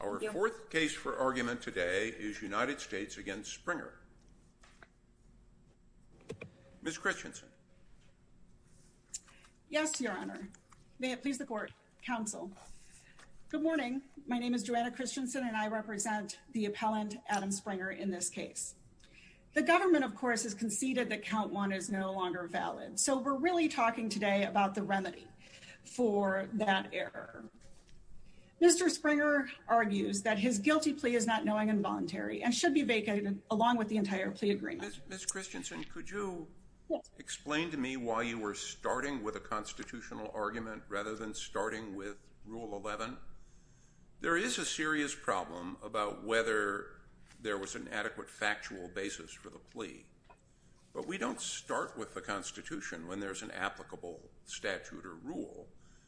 Our fourth case for argument today is United States v. Sprenger. Ms. Christensen. Yes, Your Honor. May it please the Court, Counsel. Good morning. My name is Joanna Christensen and I represent the appellant, Adam Sprenger, in this case. The government, of course, has conceded that count one is no longer valid. So we're really talking today about the remedy for that error. Mr. Sprenger argues that his guilty plea is not knowing and voluntary and should be vacated along with the entire plea agreement. Ms. Christensen, could you explain to me why you were starting with a constitutional argument rather than starting with Rule 11? There is a serious problem about whether there was an adequate factual basis for the plea. But we don't start with the Constitution when there's an applicable statute or rule.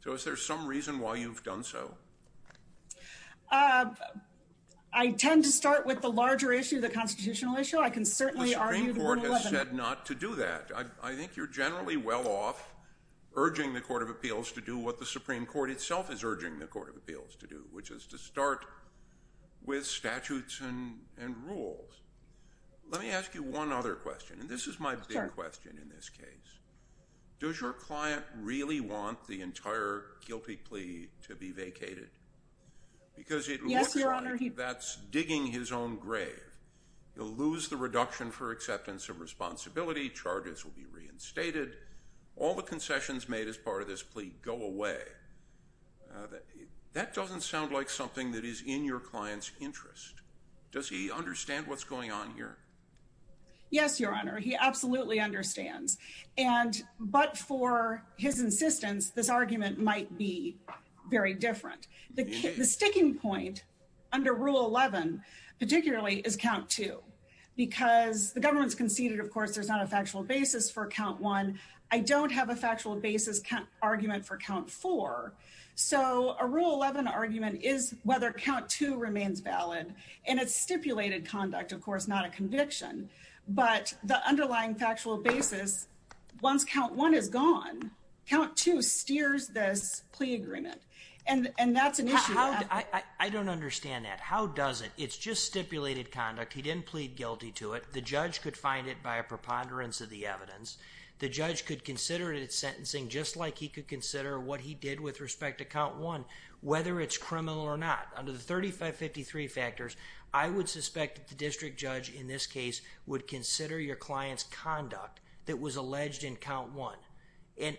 So is there some reason why you've done so? I tend to start with the larger issue, the constitutional issue. I can certainly argue the Rule 11. The Supreme Court has said not to do that. I think you're generally well off urging the Court of Appeals to do what the Supreme Court itself is urging the Court of Appeals to do, which is to start with statutes and rules. Let me ask you one other question, and this is my big question in this case. Does your client really want the entire guilty plea to be vacated? Yes, Your Honor. Because it looks like that's digging his own grave. He'll lose the reduction for acceptance of responsibility. Charges will be reinstated. All the concessions made as part of this plea go away. That doesn't sound like something that is in your client's interest. Does he understand what's going on here? Yes, Your Honor. He absolutely understands. But for his insistence, this argument might be very different. The sticking point under Rule 11, particularly, is Count 2. Because the government's conceded, of course, there's not a factual basis for Count 1. I don't have a factual basis argument for Count 4. So a Rule 11 argument is whether Count 2 remains valid. And it's stipulated conduct, of course, not a conviction. But the underlying factual basis, once Count 1 is gone, Count 2 steers this plea agreement. And that's an issue. I don't understand that. How does it? It's just stipulated conduct. He didn't plead guilty to it. The judge could find it by a preponderance of the evidence. The judge could consider its sentencing just like he could consider what he did with respect to Count 1, whether it's criminal or not. Under the 3553 factors, I would suspect that the district judge, in this case, would consider your client's conduct that was alleged in Count 1. And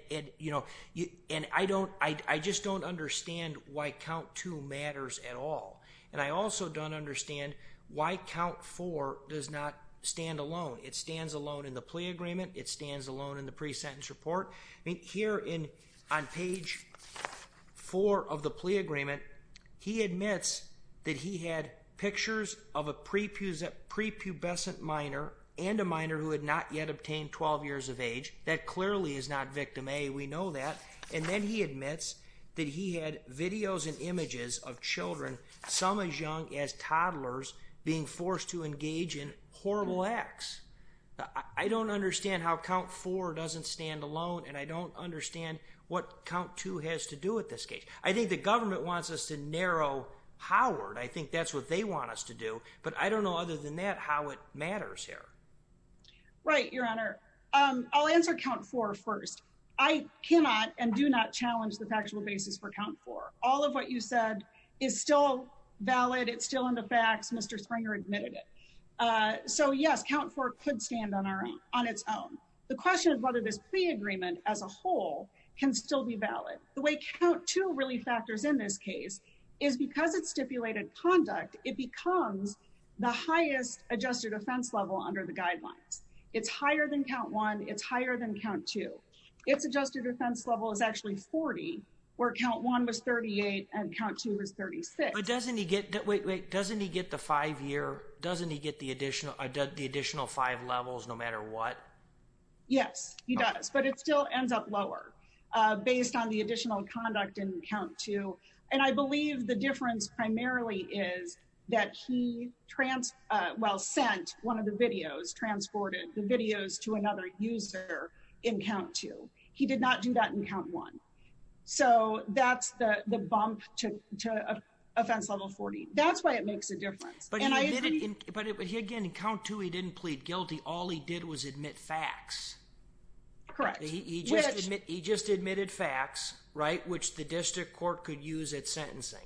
I just don't understand why Count 2 matters at all. And I also don't understand why Count 4 does not stand alone. It stands alone in the plea agreement. It stands alone in the pre-sentence report. Here on page 4 of the plea agreement, he admits that he had pictures of a prepubescent minor and a minor who had not yet obtained 12 years of age. That clearly is not victim A. We know that. And then he admits that he had videos and images of children, some as young as toddlers, being forced to engage in horrible acts. I don't understand how Count 4 doesn't stand alone, and I don't understand what Count 2 has to do with this case. I think the government wants us to narrow Howard. I think that's what they want us to do. But I don't know other than that how it matters here. Right, Your Honor. I'll answer Count 4 first. I cannot and do not challenge the factual basis for Count 4. All of what you said is still valid. It's still in the facts. Mr. Springer admitted it. So, yes, Count 4 could stand on its own. The question is whether this plea agreement as a whole can still be valid. The way Count 2 really factors in this case is because it's stipulated conduct, it becomes the highest adjusted offense level under the guidelines. It's higher than Count 1. It's higher than Count 2. Its adjusted offense level is actually 40, where Count 1 was 38 and Count 2 was 36. Wait, wait, doesn't he get the five-year, doesn't he get the additional five levels no matter what? Yes, he does. But it still ends up lower based on the additional conduct in Count 2. And I believe the difference primarily is that he, well, sent one of the videos, transported the videos to another user in Count 2. He did not do that in Count 1. So that's the bump to offense level 40. That's why it makes a difference. But he, again, in Count 2, he didn't plead guilty. All he did was admit facts. Correct. He just admitted facts, right, which the district court could use at sentencing.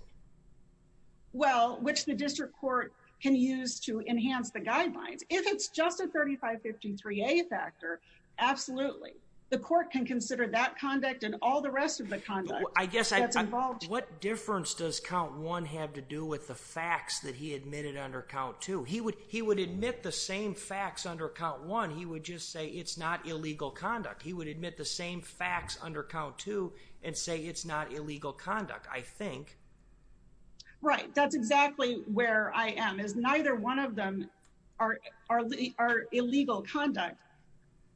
Well, which the district court can use to enhance the guidelines. If it's just a 3553A factor, absolutely. The court can consider that conduct and all the rest of the conduct that's involved. What difference does Count 1 have to do with the facts that he admitted under Count 2? He would admit the same facts under Count 1. He would just say it's not illegal conduct. He would admit the same facts under Count 2 and say it's not illegal conduct, I think. Right. That's exactly where I am, is neither one of them are illegal conduct.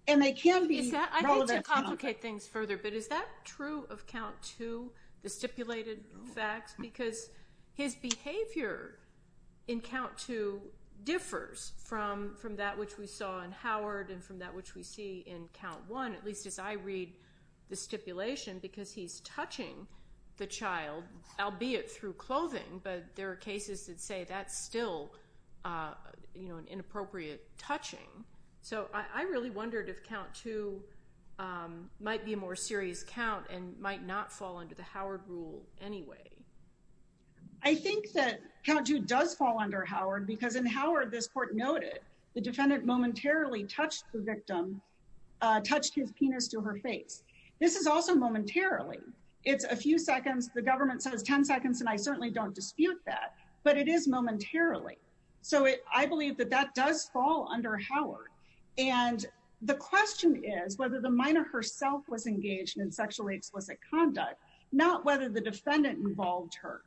I hate to complicate things further, but is that true of Count 2, the stipulated facts? Because his behavior in Count 2 differs from that which we saw in Howard and from that which we see in Count 1, at least as I read the stipulation, because he's touching the child, albeit through clothing, but there are cases that say that's still an inappropriate touching. So I really wondered if Count 2 might be a more serious count and might not fall under the Howard rule anyway. I think that Count 2 does fall under Howard because in Howard, this court noted, the defendant momentarily touched the victim, touched his penis to her face. This is also momentarily. It's a few seconds. The government says 10 seconds, and I certainly don't dispute that, but it is momentarily. So I believe that that does fall under Howard, and the question is whether the minor herself was engaged in sexually explicit conduct, not whether the defendant involved her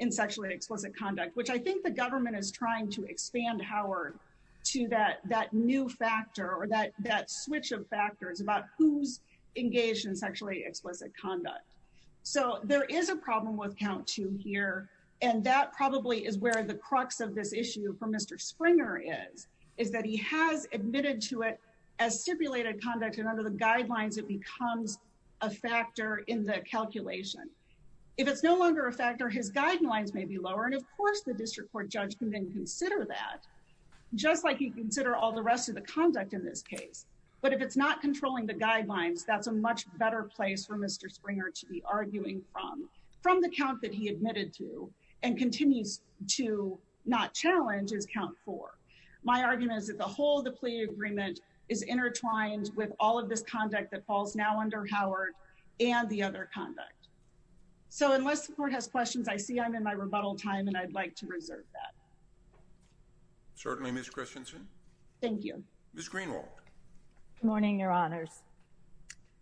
in sexually explicit conduct, which I think the government is trying to expand Howard to that new factor or that switch of factors about who's engaged in sexually explicit conduct. So there is a problem with Count 2 here, and that probably is where the crux of this issue for Mr. Springer is, is that he has admitted to it as stipulated conduct, and under the guidelines it becomes a factor in the calculation. If it's no longer a factor, his guidelines may be lower, and of course the district court judge can then consider that, just like he'd consider all the rest of the conduct in this case. But if it's not controlling the guidelines, that's a much better place for Mr. Springer to be arguing from, from the count that he admitted to and continues to not challenge is Count 4. My argument is that the whole of the plea agreement is intertwined with all of this conduct that falls now under Howard and the other conduct. So unless the court has questions, I see I'm in my rebuttal time, and I'd like to reserve that. Certainly, Ms. Christensen. Thank you. Ms. Greenwald. Good morning, Your Honors.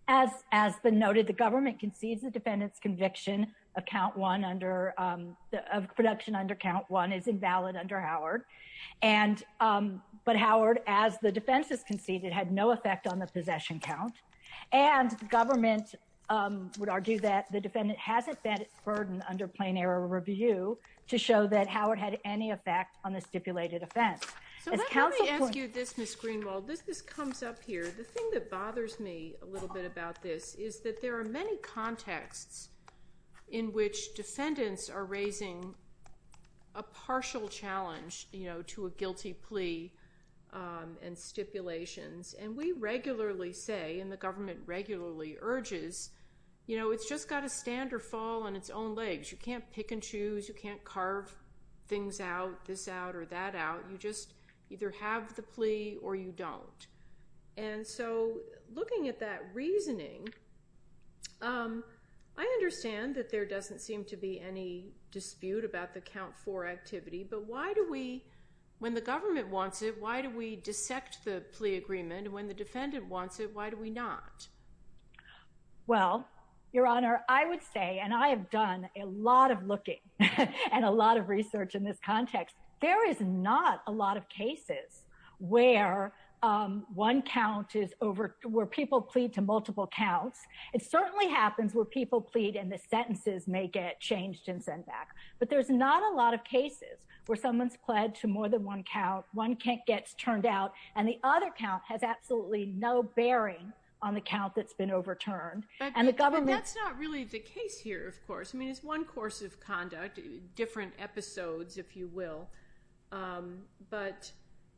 As has been noted, the government concedes the defendant's conviction of Count 1 under, of production under Count 1 is invalid under Howard. And, but Howard, as the defense has conceded, had no effect on the possession count. And the government would argue that the defendant hasn't been burdened under plain error review to show that Howard had any effect on the stipulated offense. So let me ask you this, Ms. Greenwald. This comes up here. The thing that bothers me a little bit about this is that there are many contexts in which defendants are raising a partial challenge, you know, to a guilty plea and stipulations. And we regularly say, and the government regularly urges, you know, it's just got to stand or fall on its own legs. You can't pick and choose. You can't carve things out, this out or that out. You just either have the plea or you don't. And so looking at that reasoning, I understand that there doesn't seem to be any dispute about the Count 4 activity, but why do we, when the government wants it, why do we dissect the plea agreement? When the defendant wants it, why do we not? Well, Your Honor, I would say, and I have done a lot of looking and a lot of research in this context. There is not a lot of cases where one count is over, where people plead to multiple counts. It certainly happens where people plead and the sentences may get changed and sent back. But there's not a lot of cases where someone's pled to more than one count, one gets turned out, and the other count has absolutely no bearing on the count that's been overturned. I mean, it's one course of conduct, different episodes, if you will. But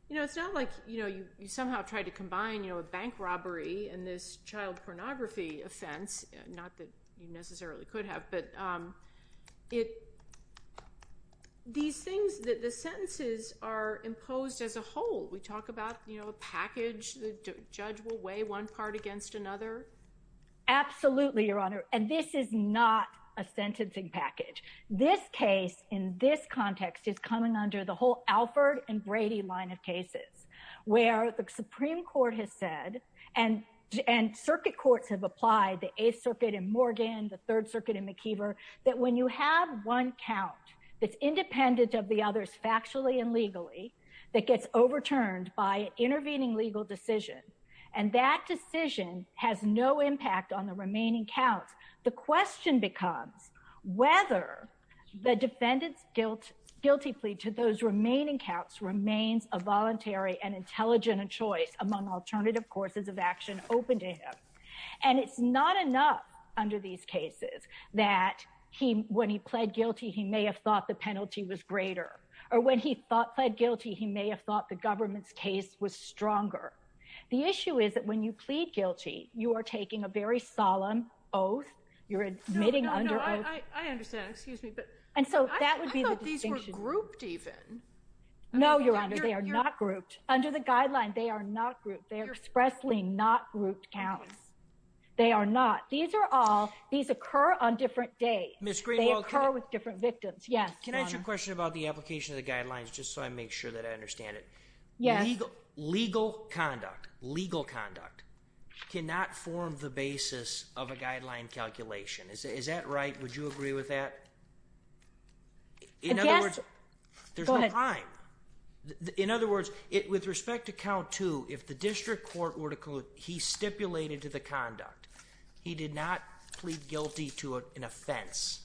it's not like you somehow tried to combine a bank robbery and this child pornography offense, not that you necessarily could have, but these things, the sentences are imposed as a whole. We talk about a package. The judge will weigh one part against another. Absolutely, Your Honor, and this is not a sentencing package. This case in this context is coming under the whole Alford and Brady line of cases where the Supreme Court has said, and circuit courts have applied, the Eighth Circuit in Morgan, the Third Circuit in McKeever, that when you have one count that's independent of the others factually and legally that gets overturned by an intervening legal decision, and that decision has no impact on the remaining counts. The question becomes whether the defendant's guilty plea to those remaining counts remains a voluntary and intelligent choice among alternative courses of action open to him. And it's not enough under these cases that when he pled guilty, he may have thought the penalty was greater, or when he pled guilty, he may have thought the government's case was stronger. The issue is that when you plead guilty, you are taking a very solemn oath. You're admitting under oath. I understand, excuse me, but I thought these were grouped even. No, Your Honor, they are not grouped. Under the guideline, they are not grouped. They are expressly not grouped counts. They are not. These occur on different days. They occur with different victims. Can I ask you a question about the application of the guidelines just so I make sure that I understand it? Yes. Legal conduct cannot form the basis of a guideline calculation. Is that right? Would you agree with that? In other words, there's no time. In other words, with respect to count two, if the district court were to conclude he stipulated to the conduct he did not plead guilty to an offense,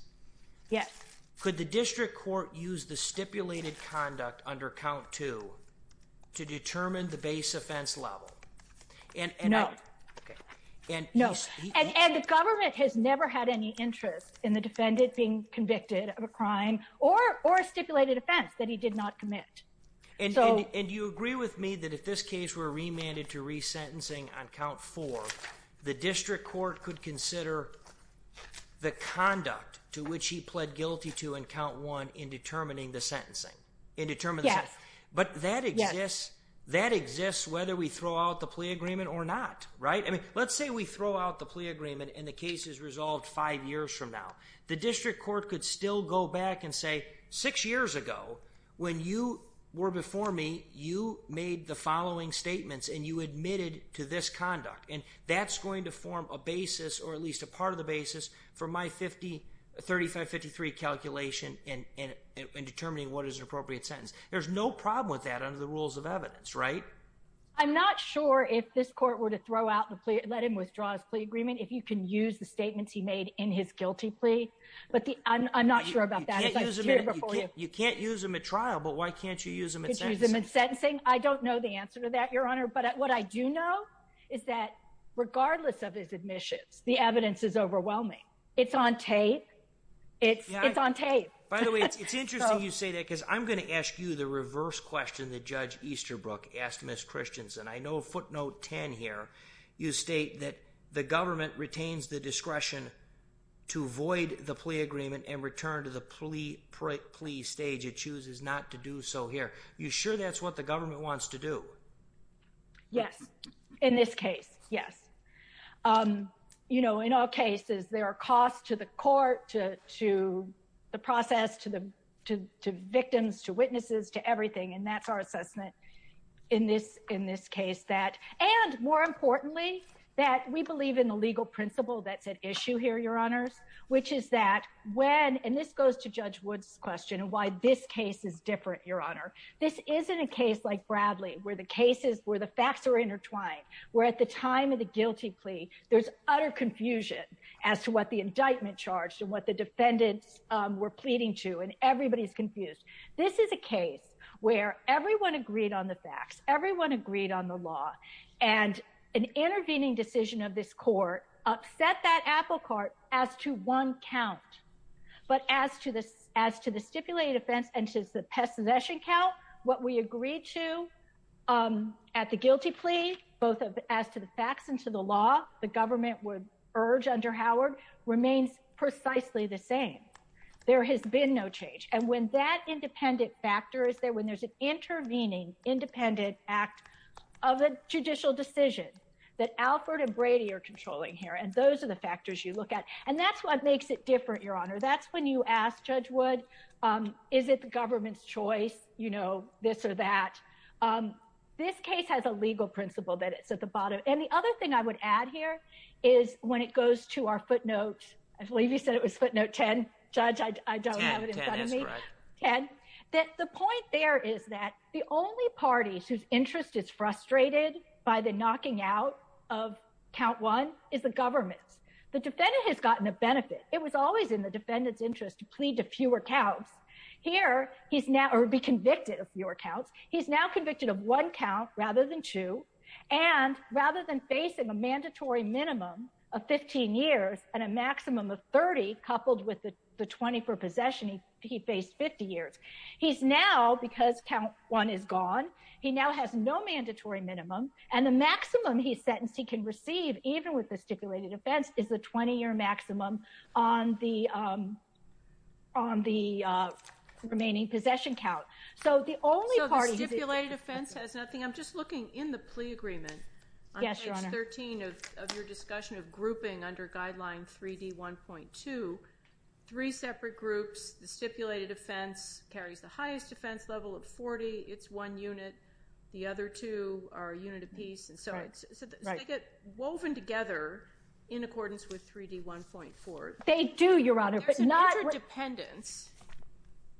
could the district court use the stipulated conduct under count two to determine the base offense level? No. The government has never had any interest in the defendant being convicted of a crime or a stipulated offense that he did not commit. Do you agree with me that if this case were remanded to resentencing on count four, the district court could consider the conduct to which he pled guilty to on count one in determining the sentencing? Yes. But that exists whether we throw out the plea agreement or not, right? Let's say we throw out the plea agreement and the case is resolved five years from now. The district court could still go back and say six years ago when you were before me, you made the following statements and you admitted to this conduct. And that's going to form a basis or at least a part of the basis for my 3553 calculation in determining what is an appropriate sentence. There's no problem with that under the rules of evidence, right? I'm not sure if this court were to throw out the plea, let him withdraw his plea agreement, if you can use the statements he made in his guilty plea. But I'm not sure about that. You can't use them at trial, but why can't you use them in sentencing? I don't know the answer to that, Your Honor. But what I do know is that regardless of his admissions, the evidence is overwhelming. It's on tape. It's on tape. By the way, it's interesting you say that because I'm going to ask you the reverse question that Judge Easterbrook asked Ms. Christensen. I know footnote 10 here, you state that the government retains the discretion to void the plea agreement and return to the plea stage. It chooses not to do so here. Are you sure that's what the government wants to do? Yes. In this case, yes. You know, in all cases, there are costs to the court, to the process, to victims, to witnesses, to everything, and that's our assessment in this case. And more importantly, that we believe in the legal principle that's at issue here, Your Honors, which is that when, and this goes to Judge Wood's question of why this case is different, Your Honor, this isn't a case like Bradley where the facts are intertwined, where at the time of the guilty plea, there's utter confusion as to what the indictment charged and what the defendants were pleading to, and everybody's confused. This is a case where everyone agreed on the facts, everyone agreed on the law, and an intervening decision of this court upset that apple cart as to one count, but as to the stipulated offense and to the pest possession count, what we agreed to at the guilty plea, both as to the facts and to the law, the government would urge under Howard, remains precisely the same. There has been no change, and when that independent factor is there, when there's an intervening independent act of a judicial decision that Alfred and Brady are controlling here, and those are the factors you look at, and that's what makes it different, Your Honor. That's when you ask Judge Wood, is it the government's choice, you know, this or that? This case has a legal principle that it's at the bottom, and the other thing I would add here is when it goes to our footnotes, I believe you said it was footnote 10. Judge, I don't have it in front of me. The point there is that the only parties whose interest is frustrated by the knocking out of count one is the government. The defendant has gotten a benefit. It was always in the defendant's interest to plead to fewer counts. Here he's now convicted of fewer counts. He's now convicted of one count rather than two, and rather than facing a mandatory minimum of 15 years and a maximum of 30, coupled with the 20 for possession he faced 50 years. He's now, because count one is gone, he now has no mandatory minimum, and the maximum he's sentenced he can receive, even with the stipulated offense, is the 20-year maximum on the remaining possession count. So the only party who's interested is the government. So the stipulated offense has nothing. I'm just looking in the plea agreement. Yes, Your Honor. On page 13 of your discussion of grouping under guideline 3D1.2, three separate groups, the stipulated offense carries the highest offense level at 40. It's one unit. The other two are a unit apiece. So they get woven together in accordance with 3D1.4. They do, Your Honor. There's an interdependence.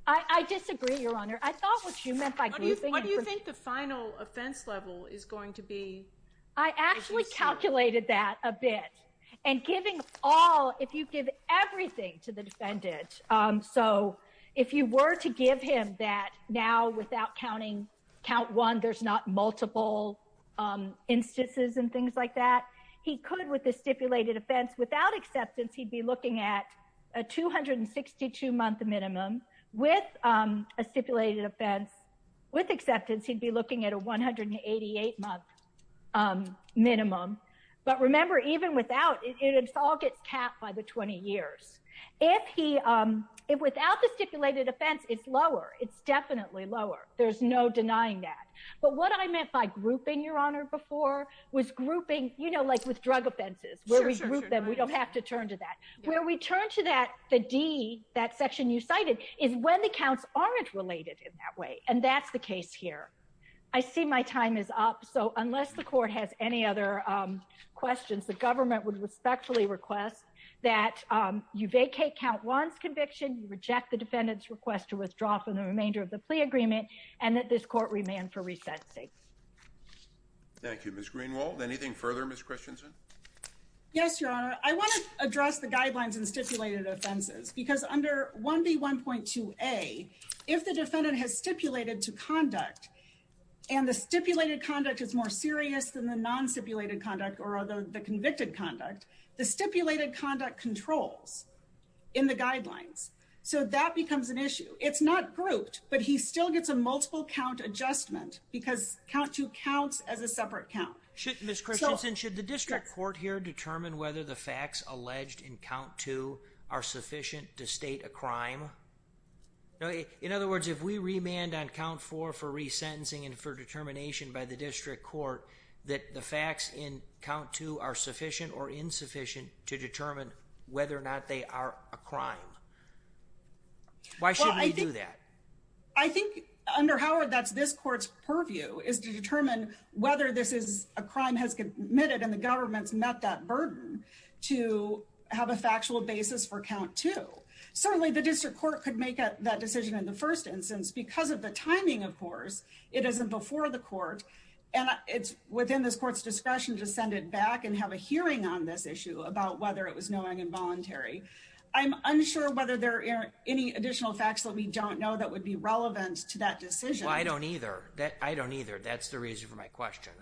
I disagree, Your Honor. I thought what you meant by grouping. What do you think the final offense level is going to be? I actually calculated that a bit. And giving all, if you give everything to the defendant, So if you were to give him that now without counting count one, there's not multiple instances and things like that, he could, with the stipulated offense, without acceptance, he'd be looking at a 262-month minimum. With a stipulated offense, with acceptance, he'd be looking at a 188-month minimum. But remember, even without, it all gets capped by the 20 years. If he, without the stipulated offense, it's lower. It's definitely lower. There's no denying that. But what I meant by grouping, Your Honor, before was grouping, you know, like with drug offenses, where we group them. We don't have to turn to that. Where we turn to that, the D, that section you cited, is when the counts aren't related in that way. And that's the case here. I see my time is up. So unless the court has any other questions, the government would respectfully request that you vacate count one's conviction, you reject the defendant's request to withdraw from the remainder of the plea agreement, and that this court remand for resetting. Thank you, Ms. Greenwald. Anything further, Ms. Christensen? Yes, Your Honor. I want to address the guidelines and stipulated offenses, because under 1B1.2a, if the defendant has stipulated to conduct, and the stipulated conduct is more serious than the non-stipulated conduct or the convicted conduct, the stipulated conduct controls in the guidelines. So that becomes an issue. It's not grouped, but he still gets a multiple count adjustment, because count two counts as a separate count. Ms. Christensen, should the district court here determine whether the facts alleged in count two are sufficient to state a crime? In other words, if we remand on count four for resentencing and for determination by the district court that the facts in count two are sufficient or insufficient to determine whether or not they are a crime, why shouldn't we do that? I think under Howard, that's this court's purview, is to determine whether this is a crime has committed and the government's met that burden to have a factual basis for count two. Certainly, the district court could make that decision in the first instance. Because of the timing, of course, it isn't before the court, and it's within this court's discretion to send it back and have a hearing on this issue about whether it was knowing and voluntary. I'm unsure whether there are any additional facts that we don't know that would be relevant to that decision. Well, I don't either. I don't either. That's the reason for my question.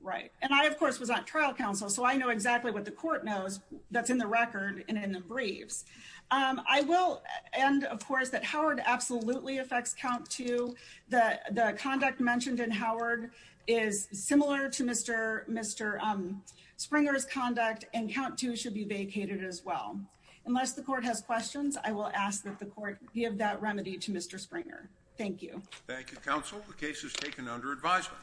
Right. And I, of course, was on trial counsel, so I know exactly what the court knows that's in the record and in the briefs. I will end, of course, that Howard absolutely affects count two. The conduct mentioned in Howard is similar to Mr. Springer's conduct, and count two should be vacated as well. Unless the court has questions, I will ask that the court give that remedy to Mr. Springer. Thank you. Thank you, counsel. The case is taken under advisement.